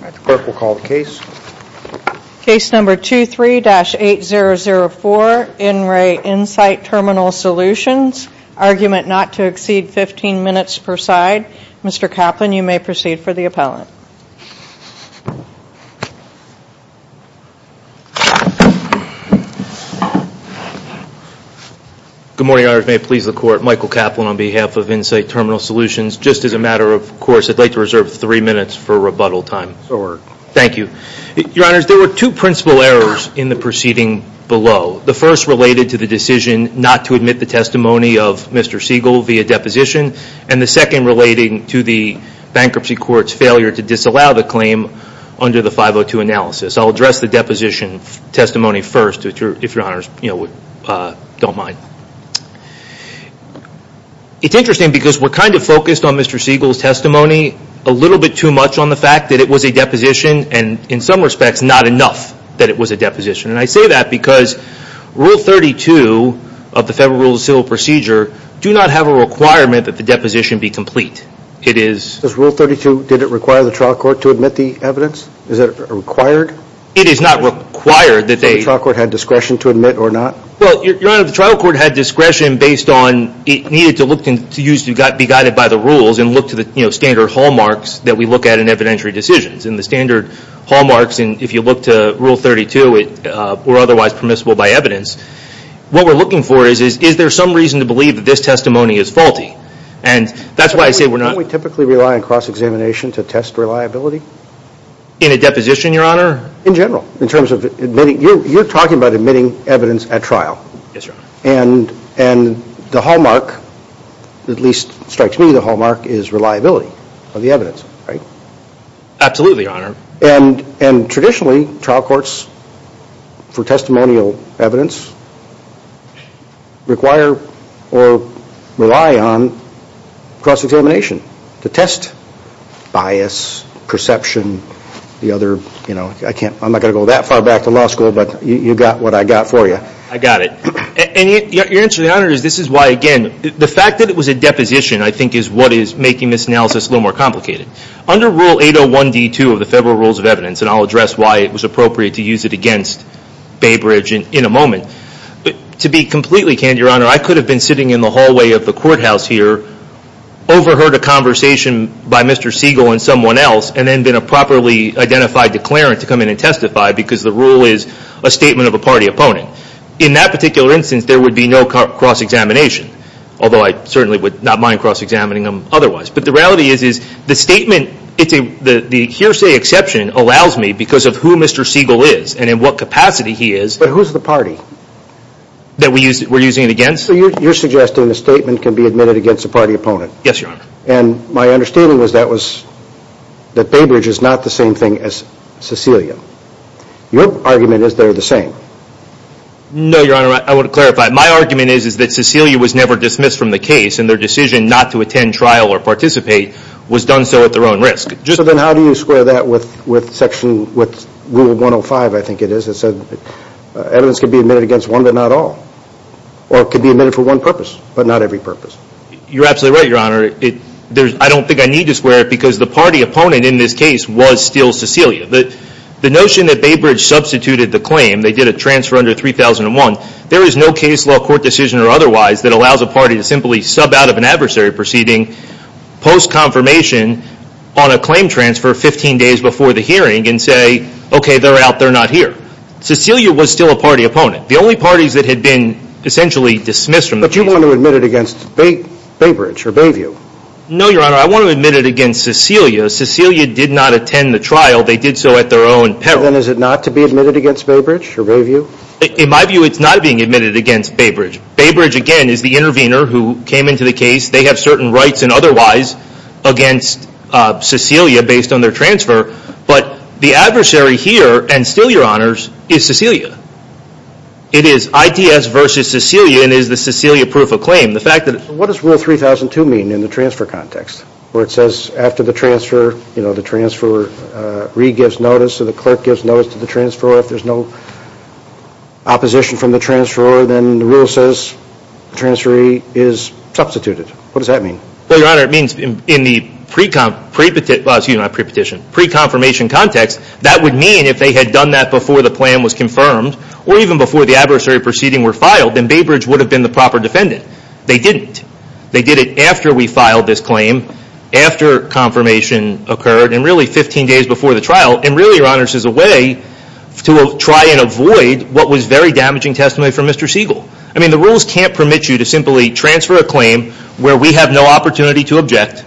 The clerk will call the case. Case number 23-8004, In Re Insight Terminal Solutions. Argument not to exceed 15 minutes per side. Mr. Kaplan, you may proceed for the appellant. Good morning. I may please the court. Michael Kaplan on behalf of Insight Terminal Solutions. Just as a matter of course, I'd like to take three minutes for rebuttal time. Thank you. Your Honors, there were two principal errors in the proceeding below. The first related to the decision not to admit the testimony of Mr. Siegel via deposition. And the second relating to the bankruptcy court's failure to disallow the claim under the 502 analysis. I'll address the deposition testimony first, if Your Honors don't mind. It's interesting because we're kind of focused on Mr. Siegel's testimony a little bit too much on the fact that it was a deposition and in some respects not enough that it was a deposition. And I say that because Rule 32 of the Federal Rules of Civil Procedure do not have a requirement that the deposition be complete. It is. Does Rule 32, did it require the trial court to admit the evidence? Is it required? It is not required that they. So the trial court had discretion to admit or not? Well, Your Honor, the trial court had discretion based on, it needed to look to be guided by the rules and look to the standard hallmarks that we look at in evidentiary decisions. And the standard hallmarks, if you look to Rule 32, were otherwise permissible by evidence. What we're looking for is, is there some reason to believe that this testimony is faulty? And that's why I say we're not. Don't we typically rely on cross-examination to test reliability? In a deposition, Your Honor? In general, in terms of admitting. You're talking about admitting evidence at trial. Yes, Your Honor. And, and the hallmark, at least strikes me, the hallmark is reliability of the evidence, right? Absolutely, Your Honor. And traditionally, trial courts for testimonial evidence require or rely on cross-examination to test bias, perception, the other, you know, I can't, I'm not going to go that far back to law school, but you got what I got for you. I got it. And your answer, Your Honor, is this is why, again, the fact that it was a deposition, I think, is what is making this analysis a little more complicated. Under Rule 801D2 of the Federal Rules of Evidence, and I'll address why it was appropriate to use it against Baybridge in a moment, to be completely candid, Your Honor, I could have been sitting in the hallway of the courthouse here, overheard a conversation by Mr. Siegel and someone else, and then been a properly identified declarant to come in and testify because the rule is a statement of a party opponent. In that particular instance, there would be no cross-examination, although I certainly would not mind cross-examining them otherwise. But the reality is, is the statement, it's a, the hearsay exception allows me, because of who Mr. Siegel is and in what capacity he is. But who's the party? That we use, we're using it against? You're suggesting the statement can be admitted against a party opponent? Yes, Your Honor. And my understanding was that was, that Baybridge is not the same thing as Cecilia. Your argument is they're the same? No, Your Honor, I want to clarify. My argument is, is that Cecilia was never dismissed from the case, and their decision not to attend trial or participate was done so at their own risk. So then how do you square that with, with section, with Rule 105, I think it is, that said evidence can be admitted against one but not all? Or it could be admitted for one purpose, but not every purpose? You're absolutely right, Your Honor. It, there's, I don't think I need to square it because the party opponent in this case was still Cecilia. The, the notion that Baybridge substituted the claim, they did a transfer under 3001, there is no case law court decision or otherwise that allows a party to simply sub out of an adversary proceeding post-confirmation on a claim transfer 15 days before the hearing and say, okay, they're out, they're not here. Cecilia was still a party opponent. The only parties that had been essentially dismissed from the case. But you want to admit it against Bay, Baybridge or Bayview? No, Your Honor. I want to admit it against Cecilia. Cecilia did not attend the trial. They did so at their own peril. Then is it not to be admitted against Baybridge or Bayview? In my view, it's not being admitted against Baybridge. Baybridge, again, is the intervener who came into the case. They have certain rights and otherwise against Cecilia based on their transfer. But the adversary here, and still, Your Honors, is Cecilia. It is ITS versus Cecilia and is the Cecilia proof of claim. What does rule 3002 mean in the transfer context? Where it says after the transfer, you know, the transferee gives notice or the clerk gives notice to the transferor if there's no opposition from the transferor, then the rule says transferee is substituted. What does that mean? Well, Your Honor, it means in the pre-confirmation context, that would mean if they had done that before the plan was confirmed, or even before the adversary proceeding were filed, then Baybridge would have been the proper defendant. They didn't. They did it after we filed this claim, after confirmation occurred, and really 15 days before the trial, and really, Your Honors, as a way to try and avoid what was very damaging testimony from Mr. Siegel. I mean, the rules can't permit you to simply transfer a claim where we have no opportunity to object,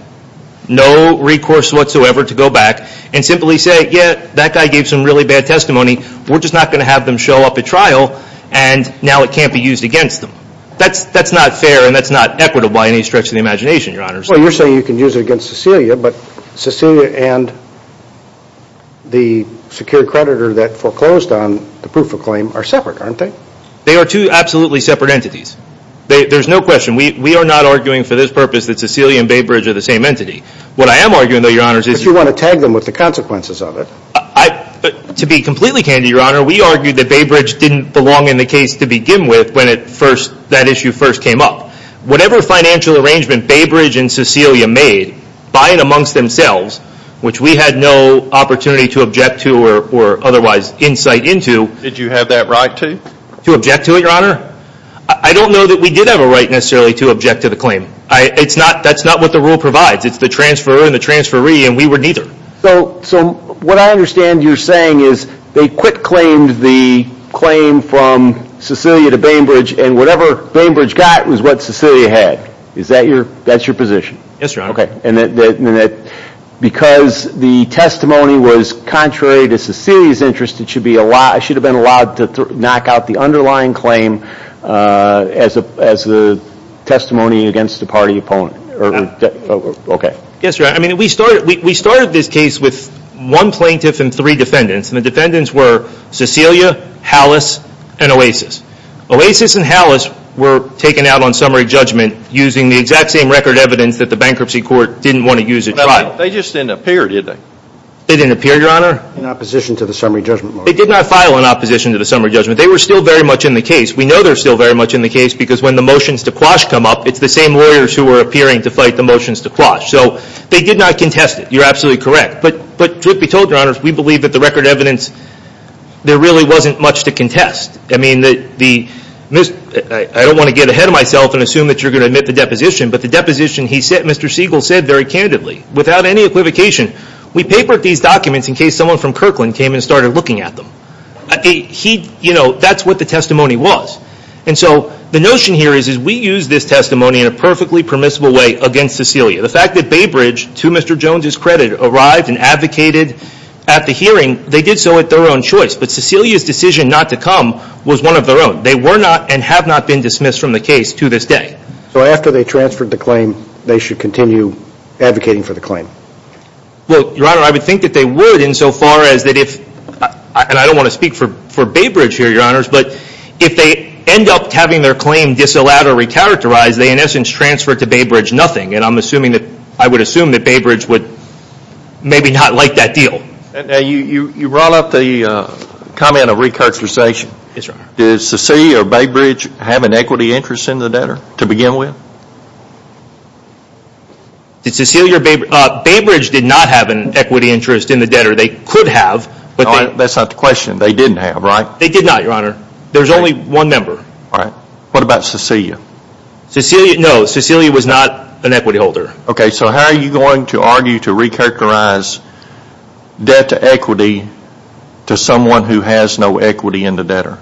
no recourse whatsoever to go back, and simply say, yeah, that guy gave some really bad testimony. We're just not going to have them show up at trial, and now it can't be used against them. That's not fair, and that's not equitable by any stretch of the imagination, Your Honors. Well, you're saying you can use it against Cecilia, but Cecilia and the secure creditor that foreclosed on the proof of claim are separate, aren't they? They are two absolutely separate entities. There's no question. We are not arguing for this purpose that Cecilia and Baybridge are the same entity. What I am arguing, though, Your Honors, is you want to tag them with the consequences of it. To be completely candid, Your Honor, we argued that Baybridge didn't belong in the case to begin with when that issue first came up. Whatever financial arrangement Baybridge and Cecilia made, by and amongst themselves, which we had no opportunity to object to or otherwise insight into. Did you have that right to? To object to it, Your Honor? I don't know that we did have a right necessarily to object to the claim. That's not what the rule provides. It's the transferor and the transferee, and we were neither. So what I understand you're saying is they quit-claimed the claim from Cecilia to Baybridge, and whatever Baybridge got was what Cecilia had. Is that your position? Yes, Your Honor. Because the testimony was contrary to Cecilia's interest, I should have been allowed to knock out the underlying claim as the testimony against the party opponent. Yes, Your Honor. I mean, we started this case with one plaintiff and three defendants, and the defendants were Cecilia, Hallis, and Oasis. Oasis and Hallis were taken out on summary judgment using the exact same record evidence that the bankruptcy court didn't want to use at trial. They just didn't appear, did they? They didn't appear, Your Honor. In opposition to the summary judgment motion. They did not file in opposition to the summary judgment. They were still very much in the case. We know they're still very much in the case because when the motions to quash come up, it's the same lawyers who are appearing to fight the motions to quash. So they did not contest it. You're absolutely correct. But truth be told, Your Honor, we believe that the record evidence, there really wasn't much to contest. I mean, I don't want to get ahead of myself and assume that you're going to admit the deposition, but the deposition he said, Mr. Siegel said very candidly, without any equivocation, we papered these documents in case someone from Kirkland came and started looking at them. He, you know, that's what the testimony was. And so the notion here is we use this testimony in a perfectly permissible way against Cecilia. The fact that Baybridge, to Mr. Jones's credit, arrived and advocated at the hearing, they did so at their own choice. But Cecilia's decision not to come was one of their own. They were not and have not been dismissed from the case to this day. So after they transferred the claim, they should continue advocating for the claim? Well, Your Honor, I would think that they would insofar as that if, and I don't want to recharacterize, they in essence transferred to Baybridge nothing. And I'm assuming that, I would assume that Baybridge would maybe not like that deal. Now you brought up the comment of recharacterization. Yes, Your Honor. Did Cecilia or Baybridge have an equity interest in the debtor to begin with? Did Cecilia or Baybridge? Baybridge did not have an equity interest in the debtor. They could have. That's not the question. They didn't have, right? They did not, Your Honor. There's only one member. All right. What about Cecilia? Cecilia, no. Cecilia was not an equity holder. Okay. So how are you going to argue to recharacterize debt equity to someone who has no equity in the debtor?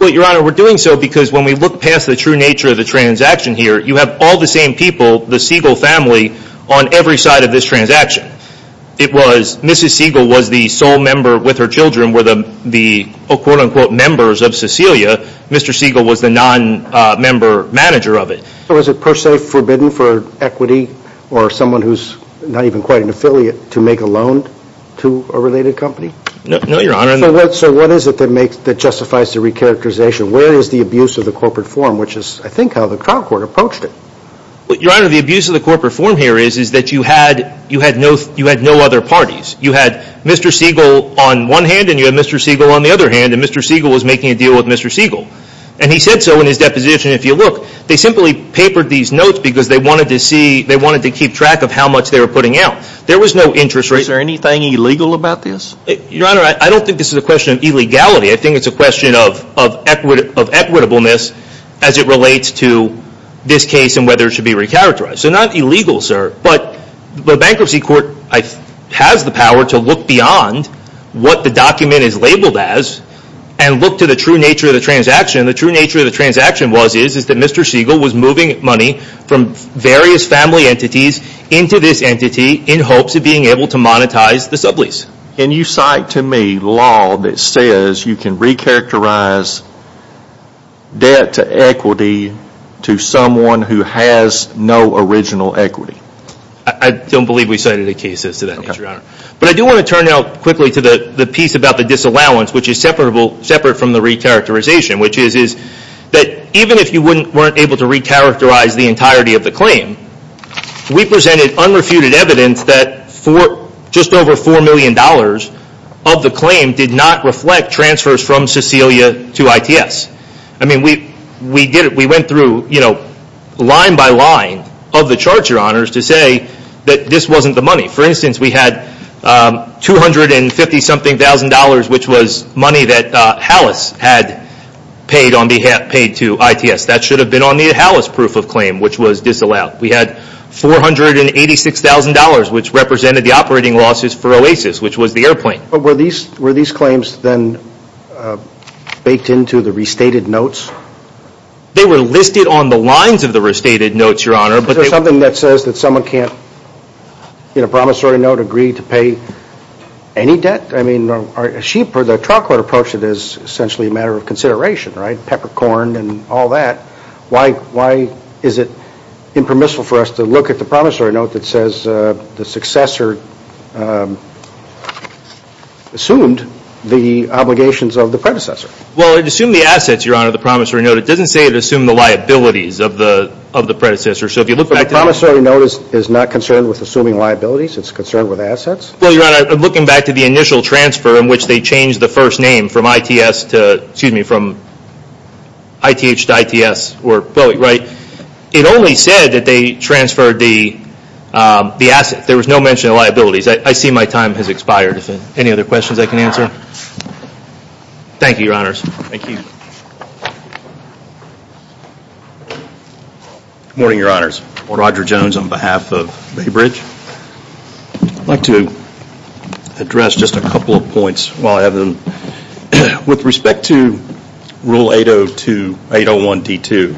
Well, Your Honor, we're doing so because when we look past the true nature of the transaction here, you have all the same people, the Siegel family, on every side of this transaction. It was, Mrs. Siegel was the sole with her children were the quote unquote members of Cecilia. Mr. Siegel was the non-member manager of it. So was it per se forbidden for equity or someone who's not even quite an affiliate to make a loan to a related company? No, Your Honor. So what is it that justifies the recharacterization? Where is the abuse of the corporate form, which is I think how the trial court approached it? Your Honor, the abuse of the corporate form here is that you had no other parties. You had Mr. Siegel on one hand and you had Mr. Siegel on the other hand, and Mr. Siegel was making a deal with Mr. Siegel. And he said so in his deposition. If you look, they simply papered these notes because they wanted to see, they wanted to keep track of how much they were putting out. There was no interest rate. Is there anything illegal about this? Your Honor, I don't think this is a question of illegality. I think it's a question of equitableness as it relates to this case and whether it should be recharacterized. So not illegal, sir, but the bankruptcy court has the power to look beyond what the document is labeled as and look to the true nature of the transaction. The true nature of the transaction was that Mr. Siegel was moving money from various family entities into this entity in hopes of being able to monetize the sublease. Can you cite to me law that says you can recharacterize debt to equity to someone who has no original equity? I don't believe we cited a case as to that. But I do want to turn now quickly to the piece about the disallowance, which is separate from the recharacterization, which is that even if you weren't able to recharacterize the entirety of the claim, we presented unrefuted evidence that just over $4 million of the claim did not reflect transfers from Cecilia to ITS. I mean, we went through line by line of the charge, your honors, to say that this wasn't the money. For instance, we had $250-something thousand dollars, which was money that HALIS had paid to ITS. That should have been on the HALIS proof of claim, which was disallowed. We had $486,000, which represented the operating losses for OASIS, which was the airplane. Were these claims then baked into the restated notes? They were listed on the lines of the restated notes, your honor. Is there something that says that someone can't, in a promissory note, agree to pay any debt? I mean, the trial court approach is essentially a matter of consideration, right? Peppercorn and all that. Why is it impermissible for us to look at the promissory note that says the successor assumed the obligations of the predecessor? Well, it assumed the assets, your honor, the promissory note. It doesn't say it assumed the liabilities of the predecessor. So if you look back to the... But the promissory note is not concerned with assuming liabilities? It's concerned with assets? Well, your honor, looking back to the initial transfer in which they changed the first name from ITS to, excuse me, from ITH to ITS, right? It only said that they transferred the assets. There was no mention of liabilities. I see my time has expired. Any other questions I can answer? Thank you, your honors. Thank you. Good morning, your honors. I'm Roger Jones on behalf of Baybridge. I'd like to address just a couple of points while I have them. With respect to Rule 801D2,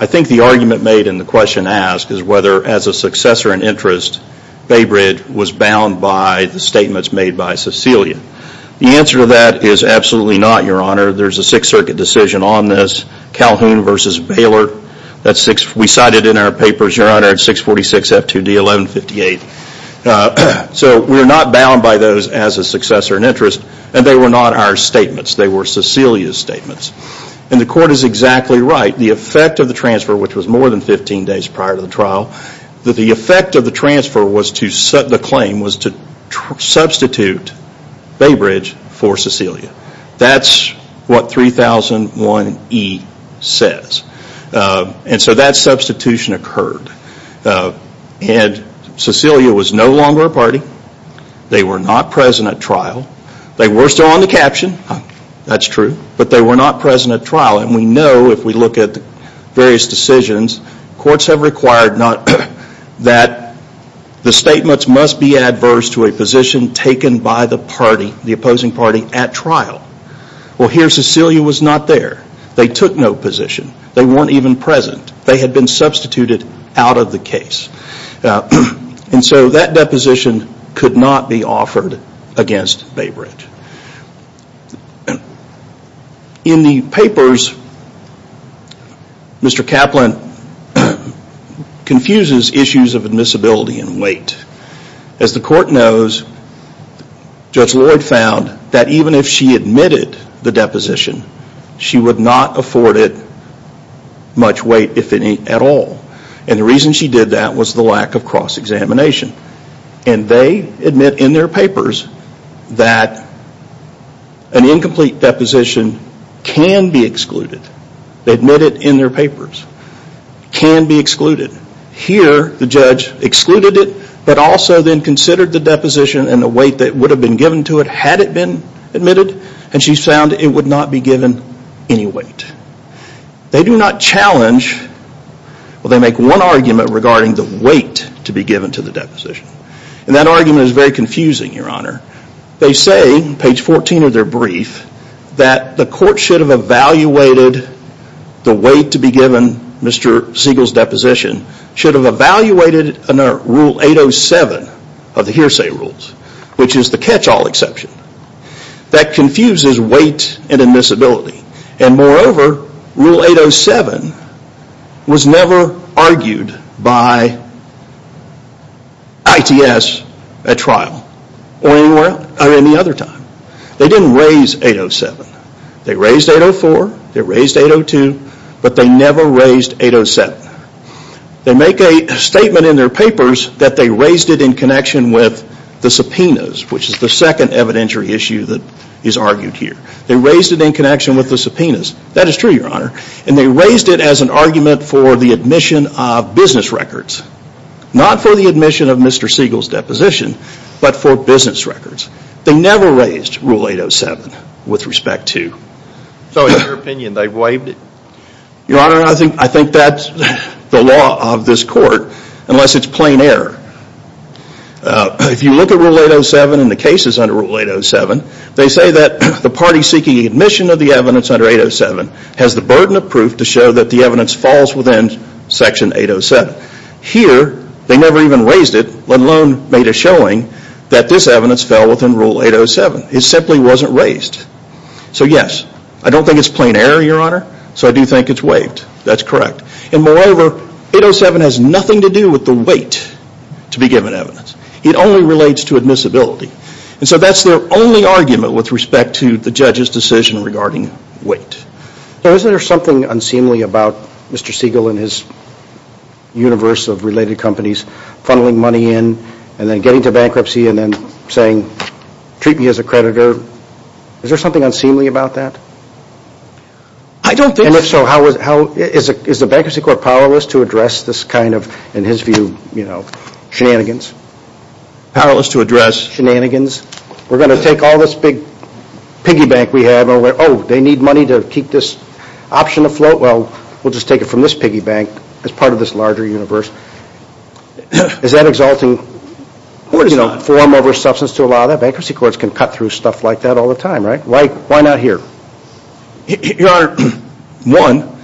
I think the argument made in the question asked is whether, as a successor in interest, Baybridge was bound by the statements made by Cecilia. The answer to that is absolutely not, your honor. There's a Sixth Circuit decision on this, Calhoun v. Baylor. We cited in our papers, your honor, 646F2D1158. So we're not bound by those as a successor in interest and they were not our statements. They were Cecilia's statements. And the court is exactly right. The effect of the transfer, which was more than 15 days prior to the trial, that the effect of the transfer was to set the claim was to substitute Baybridge for Cecilia. That's what 3001E says. And so that substitution occurred. And Cecilia was no longer a party. They were not present at trial. They were still on the caption, that's true, but they were not present at trial. And we know if we look at various decisions, courts have required that the statements must be adverse to a position taken by the party, the opposing party, at trial. Well, here Cecilia was not there. They took no position. They weren't even present. They had been substituted out of the case. And so that deposition could not be offered against Baybridge. In the papers, Mr. Kaplan confuses issues of admissibility and weight. As the court knows, Judge Lloyd found that even if she admitted the deposition, she would not afford it much weight, if any, at all. And the reason she did that was the lack of cross-examination. And they admit in their papers that an incomplete deposition can be excluded. They admit it in their papers. Can be excluded. Here, the judge excluded it, but also then considered the deposition and the weight that would have been given to it had it been admitted, and she found it would not be given any weight. They do not challenge, well they make one argument regarding the weight to be given to the deposition. And that argument is very confusing, Your Honor. They say, page 14 of their brief, that the court should have evaluated the weight to be given Mr. Siegel's deposition, should have evaluated under Rule 807 of the hearsay rules, which is the catch-all exception. That confuses weight and admissibility. And moreover, Rule 807 was never argued by ITS at trial or any other time. They didn't raise 807. They raised 804, they raised 802, but they never raised 807. They make a statement in their papers that they raised it in connection with the subpoenas, which is the second evidentiary issue that is argued here. They raised it in connection with the subpoenas. That is true, Your Honor. And they raised it as an argument for the admission of business records. Not for the admission of Mr. Siegel's deposition, but for business records. They never raised Rule 807 with respect to. So in your opinion, they waived it? Your Honor, I think that's the law of this court, unless it's plain error. If you look at Rule 807 and the cases under Rule 807, they say that the party seeking admission of the evidence under 807 has the burden of proof to show that the evidence falls within Section 807. Here, they never even raised it, let alone made a showing that this evidence fell within Rule 807. It simply wasn't raised. So yes, I don't think it's plain error, Your Honor. So I do think it's waived. That's correct. And moreover, 807 has nothing to do with the weight to be given evidence. It only relates to admissibility. And so that's their only argument with respect to the judge's decision regarding weight. Now isn't there something unseemly about Mr. Siegel and his universe of related companies funneling money in and then getting to bankruptcy and then saying, treat me as a creditor? Is there something unseemly about that? I don't think so. And if so, is the Bankruptcy Court powerless to address this kind of, in his view, you know, shenanigans? Powerless to address shenanigans? We're going to take all this big piggy bank we have and we're, oh, they need money to keep this option afloat? Well, we'll just take it from this piggy bank as part of this larger universe. Is that exalting form over substance to allow that? Bankruptcy courts can cut through stuff like that all the time, right? Why not here? Your Honor, one,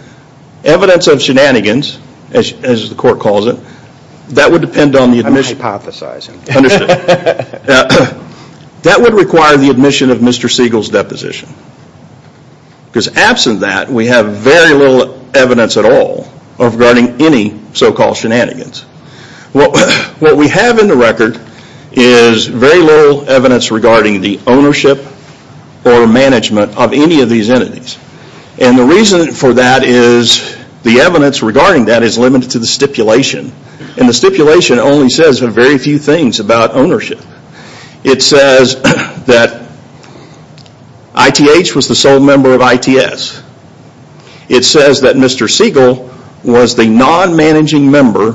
evidence of shenanigans, as the court calls it, that would depend on the admission. I'm hypothesizing. Understood. That would require the admission of Mr. Siegel's deposition. Because absent that, we have very little evidence at all regarding any so-called shenanigans. What we have in the record is very little evidence regarding the ownership or management of any of these entities. And the reason for that is the evidence regarding that is limited to the stipulation. And the stipulation only says a very few things about ownership. It says that ITH was the sole member of ITS. It says that Mr. Siegel was the non-managing member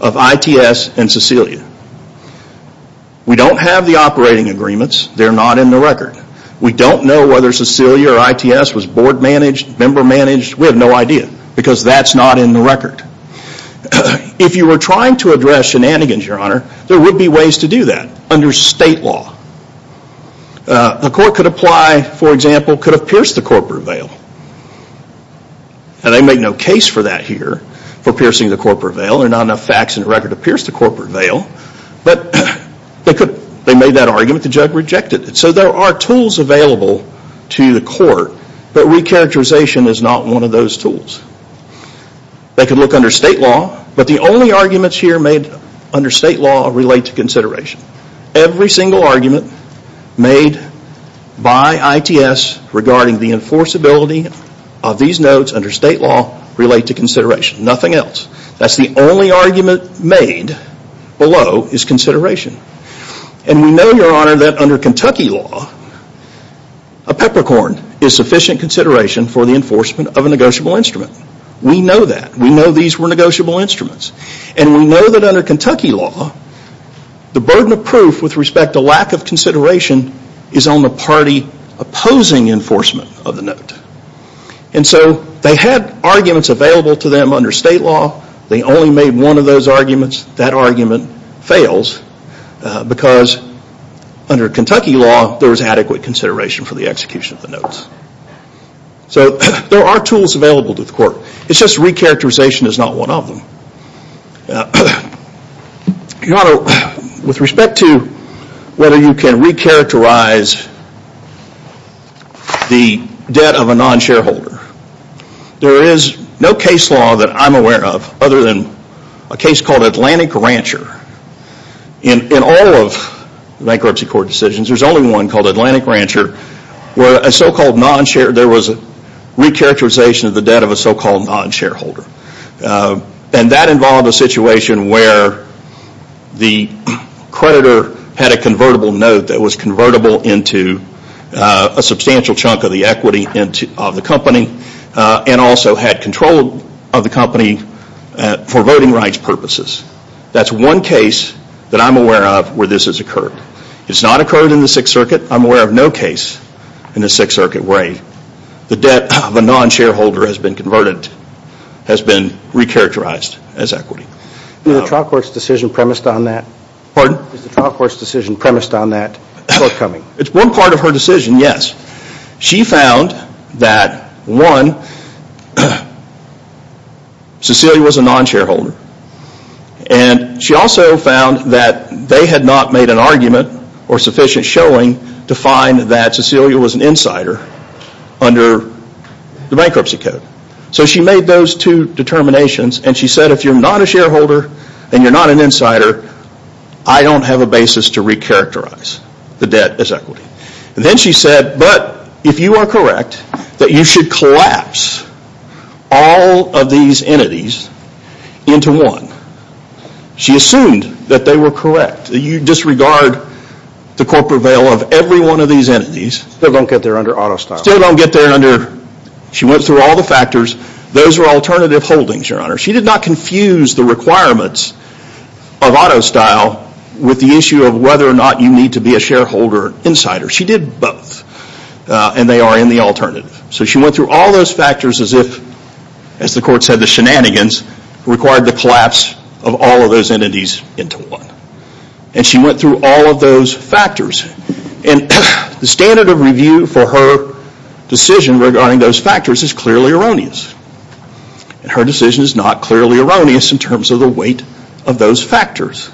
of ITS and Cecilia. We don't have the operating agreements. They're not in the record. We don't know whether Cecilia or ITS was board managed, member managed. We have no idea because that's not in the record. If you were trying to address shenanigans, Your Honor, there would be ways to do that under state law. A court could apply, for example, could have pierced the corporate veil. And they make no case for that here, for piercing the corporate veil. There are not enough facts in the record to pierce the corporate veil. But they made that argument, the judge rejected it. So there are tools available to the court, but re-characterization is not one of those tools. They could look under state law, but the only arguments here made under state law relate to consideration. Every single argument made by ITS regarding the enforceability of these notes under state law relate to consideration. Nothing else. That's the only argument made below is consideration. And we know, Your Honor, that under Kentucky law, a peppercorn is sufficient consideration for the enforcement of a negotiable instrument. We know that. We know these were negotiable instruments. And we know that under Kentucky law, the burden of proof with respect to lack of consideration is on the party opposing enforcement of the note. And so they had arguments available to them under state law. They only made one of those arguments. That argument fails because under Kentucky law, there was adequate consideration for the execution of the notes. So there are tools available to the court. It's just re-characterization is not one of them. Your Honor, with respect to whether you can re-characterize the debt of a non-shareholder, there is no case law that I'm aware of other than a case called Atlantic Rancher. In all of bankruptcy court decisions, there's only one called Atlantic Rancher where there was re-characterization of the debt of a so-called non-shareholder. And that involved a situation where the creditor had a convertible note that was convertible into a substantial chunk of the equity of the company and also had control of the company for voting rights purposes. That's one case that I'm aware of where this has occurred. It's not occurred in the Sixth Circuit. I'm aware of no case in the Sixth Circuit where the debt of a non-shareholder has been converted, has been re-characterized as equity. Is the trial court's decision premised on that? Pardon? Is the trial court's decision premised on that forthcoming? It's one part of her decision, yes. She found that one, Cecilia was a non-shareholder. And she also found that they had not made an argument or sufficient showing to find that Cecilia was an insider under the bankruptcy code. So she made those two determinations and she said, if you're not a shareholder and you're not an insider, I don't have a basis to re-characterize the debt as equity. And then she said, but if you are correct, that you should collapse all of these entities into one. She assumed that they were correct. You disregard the corporate veil of every one of these entities. Still don't get there under auto style. Still don't get there under, she went through all the factors. Those are alternative holdings, your honor. She did not confuse the requirements of auto style with the issue of whether or not you need to be a shareholder or insider. She did both and they are in the alternative. So she went through all those factors as if, as the court said, the shenanigans required the collapse of all of those entities into one. And she went through all of those factors. And the standard of review for her decision regarding those factors is clearly erroneous. Her decision is not clearly erroneous in terms of the weight of those factors.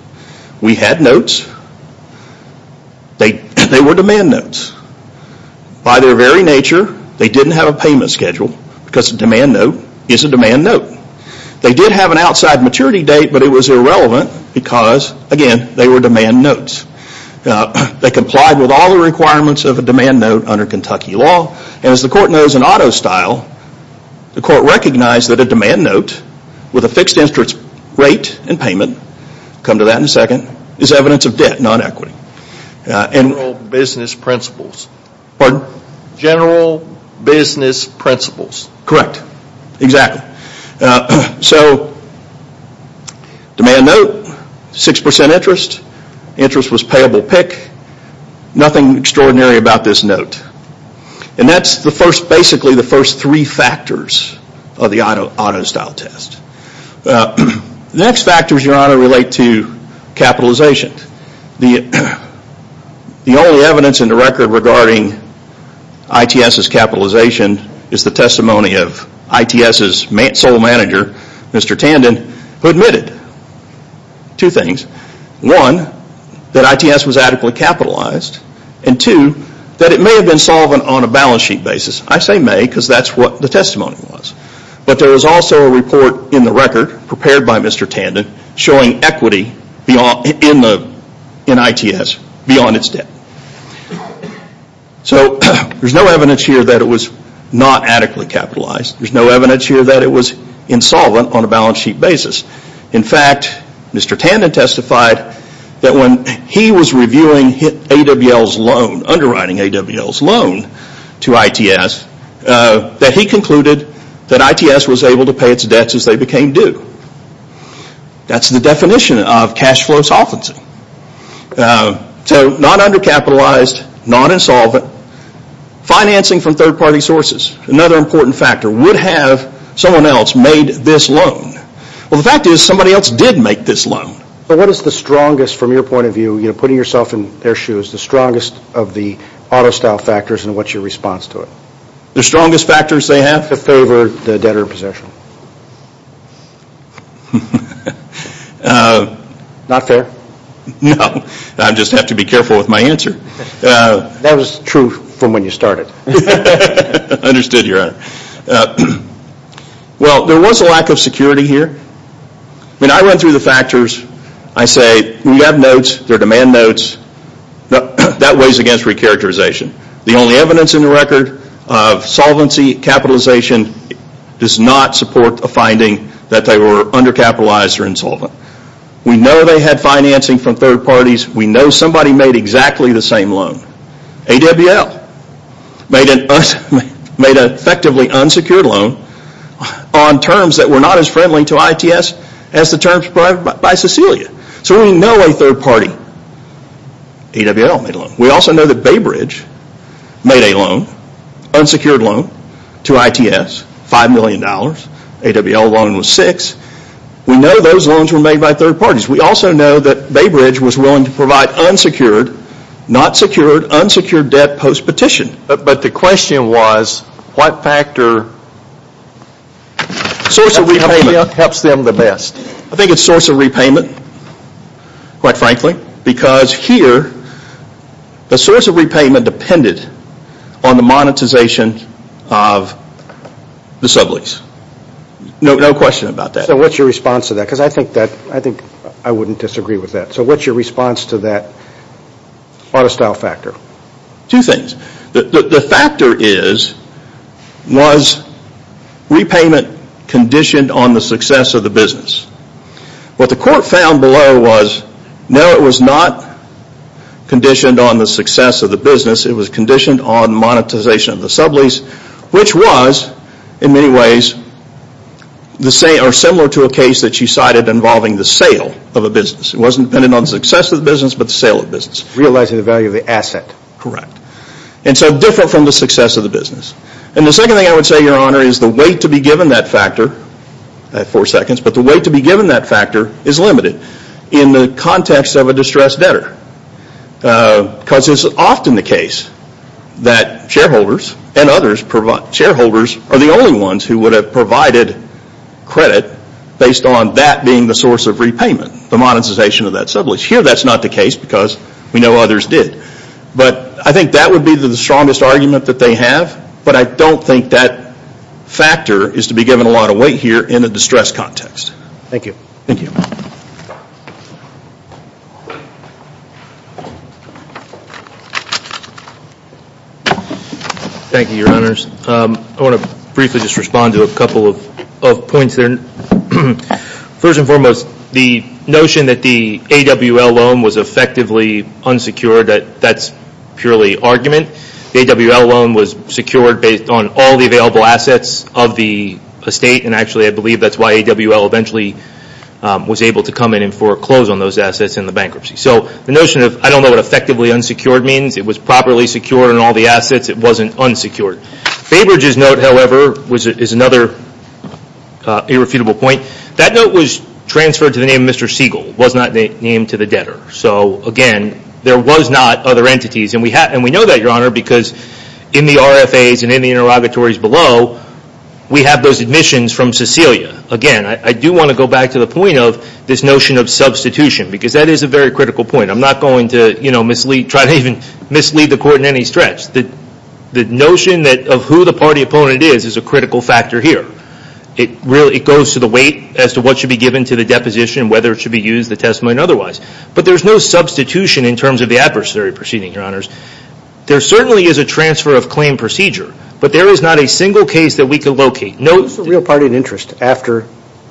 We had notes. They were demand notes. By their very nature, they didn't have a payment schedule because a demand note is a demand note. They did have an outside maturity date, but it was irrelevant because, again, they were demand notes. They complied with all the requirements of a demand note under Kentucky law. And as the court knows in auto style, the court recognized that a demand note with a fixed interest rate and payment come to that in a second, is evidence of debt, not equity. General business principles. Pardon? General business principles. Correct. Exactly. So, demand note, 6% interest. Interest was payable pick. Nothing extraordinary about this note. And that's basically the first three factors of the auto style test. The next factors, Your Honor, relate to capitalization. The only evidence in the record regarding ITS's capitalization is the testimony of ITS's sole manager, Mr. Tandon, who admitted two things. One, that ITS was adequately capitalized. And two, that it may have been solvent on a balance sheet basis. I say may because that's what the testimony was. But there was also a report in the record prepared by Mr. Tandon showing equity in ITS beyond its debt. So, there's no evidence here that it was not adequately capitalized. There's no evidence here that it was insolvent on a balance sheet basis. In fact, Mr. Tandon testified that when he was reviewing AWL's loan, to ITS, that he concluded that ITS was able to pay its debts as they became due. That's the definition of cash flow solvency. So, not undercapitalized, not insolvent. Financing from third party sources, another important factor. Would have someone else made this loan? Well, the fact is somebody else did make this loan. But what is the strongest, from your point of view, putting yourself in their shoes, the strongest of the auto style factors and what's your response to it? The strongest factors they have? To favor the debtor in possession. Not fair. No. I just have to be careful with my answer. That was true from when you started. Understood, Your Honor. Well, there was a lack of security here. When I run through the factors, I say, we have notes, they're demand notes, that weighs against re-characterization. The only evidence in the record of solvency capitalization does not support a finding that they were undercapitalized or insolvent. We know they had financing from third parties. We know somebody made exactly the same loan. AWL made an effectively unsecured loan on terms that were not as friendly to ITS as the terms provided by Cecilia. So we know a third party. AWL made a loan. We also know that Baybridge made a loan, unsecured loan, to ITS, $5 million. AWL loan was six. We know those loans were made by third parties. We also know that Baybridge was willing to provide unsecured, not secured, unsecured debt post-petition. But the question was, what factor helps them the best? I think it's source of repayment, quite frankly, because here, the source of repayment depended on the monetization of the sublease. No question about that. So what's your response to that? Because I think I wouldn't disagree with that. So what's your response to that artistile factor? Two things. The factor is, was repayment conditioned on the success of the business? What the court found below was, no, it was not conditioned on the success of the business. It was conditioned on monetization of the sublease, which was, in many ways, similar to a case that you cited involving the sale of a business. It wasn't dependent on the success of the business, but the sale of the business. Realizing the value of the asset. Correct. And so different from the success of the business. And the second thing I would say, Your Honor, is the weight to be given that factor, I have four seconds, but the weight to be given that factor is limited in the context of a distressed debtor. Because it's often the case that shareholders and others, shareholders are the only ones who would have provided credit based on that being the source of repayment, the monetization of that sublease. Here, that's not the case because we know others did. But I think that would be the strongest argument that they have, but I don't think that factor is to be given a lot of weight here in a distressed context. Thank you. Thank you. Thank you, Your Honors. I want to briefly just respond to a couple of points. First and foremost, the notion that the AWL loan was effectively unsecured, that's purely argument. The AWL loan was secured based on all the available assets of the estate. And actually, I believe that's why AWL eventually was able to come in and foreclose on those assets in the bankruptcy. So the notion of, I don't know what effectively unsecured means, it was properly secured on all the assets, it wasn't unsecured. Baberidge's note, however, is another irrefutable point. That note was transferred to the name Mr. Siegel. It was not named to the debtor. So, again, there was not other entities. And we know that, Your Honor, because in the RFAs and in the interrogatories below, we have those admissions from Cecilia. Again, I do want to go back to the point of this notion of substitution. Because that is a very critical point. I'm not going to, you know, try to even mislead the Court in any stretch. The notion of who the party opponent is is a critical factor here. It goes to the weight as to what should be given to the deposition, whether it should be used, the testimony and otherwise. But there's no substitution in terms of the adversary proceeding, Your Honors. There certainly is a transfer of claim procedure. But there is not a single case that we can locate. Who's the real party in interest after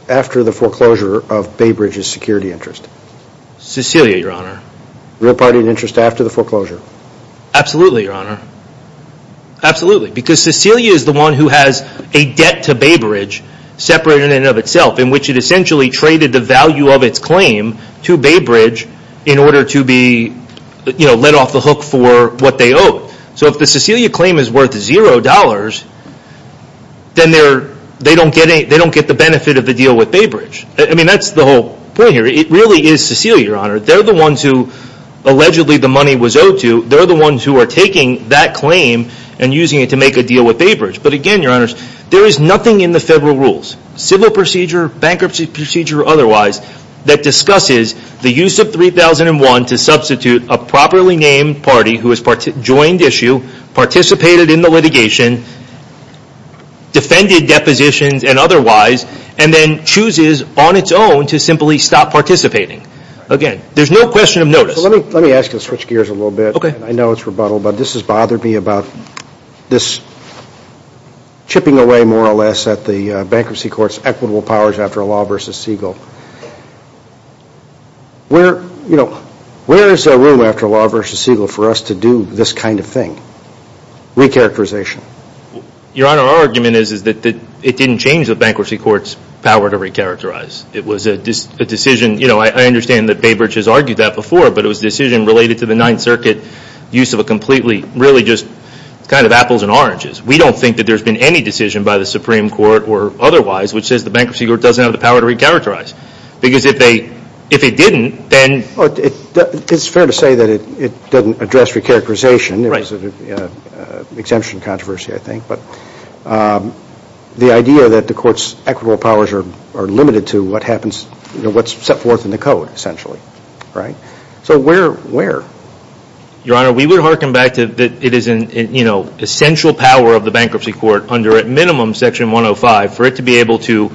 the foreclosure of Baberidge's security interest? Cecilia, Your Honor. Real party in interest after the foreclosure? Absolutely, Your Honor. Absolutely. Because Cecilia is the one who has a debt to Baberidge separated in and of itself, in which it essentially traded the value of its claim to Baberidge in order to be, you know, let off the hook for what they owe. So if the Cecilia claim is worth $0, then they don't get the benefit of the deal with Baberidge. I mean, that's the whole point here. It really is Cecilia, Your Honor. They're the ones who, allegedly, the money was owed to. They're the ones who are taking that claim and using it to make a deal with Baberidge. But again, Your Honors, there is nothing in the federal rules, civil procedure, bankruptcy procedure or otherwise, that discusses the use of $3,001 to substitute a properly named party who has joined issue, participated in the litigation, defended depositions and otherwise, and then chooses on its own to simply stop participating. Again, there's no question of notice. Let me ask you to switch gears a little bit. I know it's rebuttal, but this has bothered me about this chipping away, more or less, at the bankruptcy court's equitable powers after Law v. Siegel. Where, you know, where is there room after Law v. Siegel for us to do this kind of thing? Recharacterization. Your Honor, our argument is that it didn't change the bankruptcy court's power to recharacterize. It was a decision, you know, I understand that Baberidge has argued that before, but it was a decision related to the Ninth Circuit use of a completely, really just kind of apples and oranges. We don't think that there's been any decision by the Supreme Court or otherwise which says the bankruptcy court doesn't have the power to recharacterize. Because if it didn't, then... It's fair to say that it doesn't address recharacterization. It was an exemption controversy, I think. But the idea that the court's equitable powers are limited to what happens, you know, what's set forth in the Code, essentially. Right? So where, where? Your Honor, we would hearken back to that it is an, you know, essential power of the bankruptcy court under, at minimum, Section 105 for it to be able to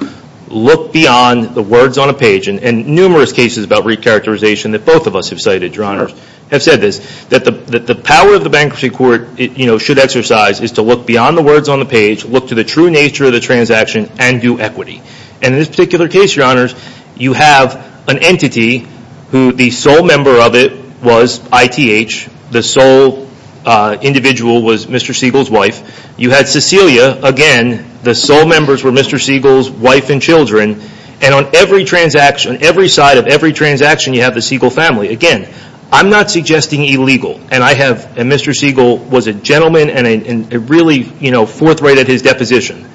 look beyond the words on a page. And numerous cases about recharacterization that both of us have cited, Your Honor, have said this. That the power of the bankruptcy court, you know, should exercise is to look beyond the words on the page, look to the true nature of the transaction, and do equity. And in this particular case, Your Honor, you have an entity who the sole member of it was I.T.H. The sole individual was Mr. Siegel's wife. You had Cecilia. Again, the sole members were Mr. Siegel's wife and children. And on every transaction, every side of every transaction, you have the Siegel family. Again, I'm not suggesting illegal. And I have, Mr. Siegel was a gentleman and a really, you know, forthright at his deposition.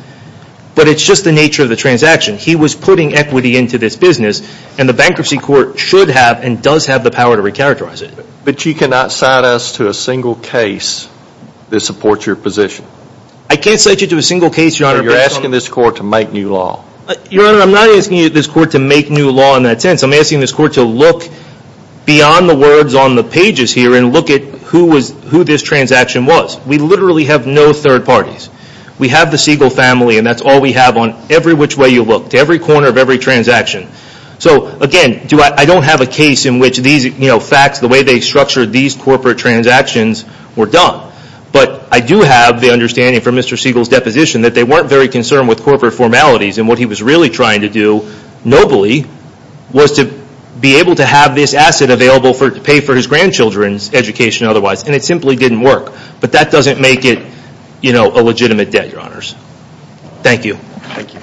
But it's just the nature of the transaction. He was putting equity into this business. And the bankruptcy court should have and does have the power to recharacterize it. But you cannot cite us to a single case that supports your position. I can't cite you to a single case, Your Honor. You're asking this court to make new law. Your Honor, I'm not asking this court to make new law in that sense. I'm asking this court to look beyond the words on the pages here and look at who this transaction was. We literally have no third parties. We have the Siegel family, and that's all we have on every which way you look, to every corner of every transaction. So, again, I don't have a case in which these, you know, facts, the way they structured these corporate transactions were done. But I do have the understanding from Mr. Siegel's deposition that they weren't very concerned with corporate formalities. And what he was really trying to do, nobly, was to be able to have this asset available to pay for his grandchildren's education otherwise. And it simply didn't work. But that doesn't make it, you know, a legitimate debt, Your Honors. Thank you. Thank you.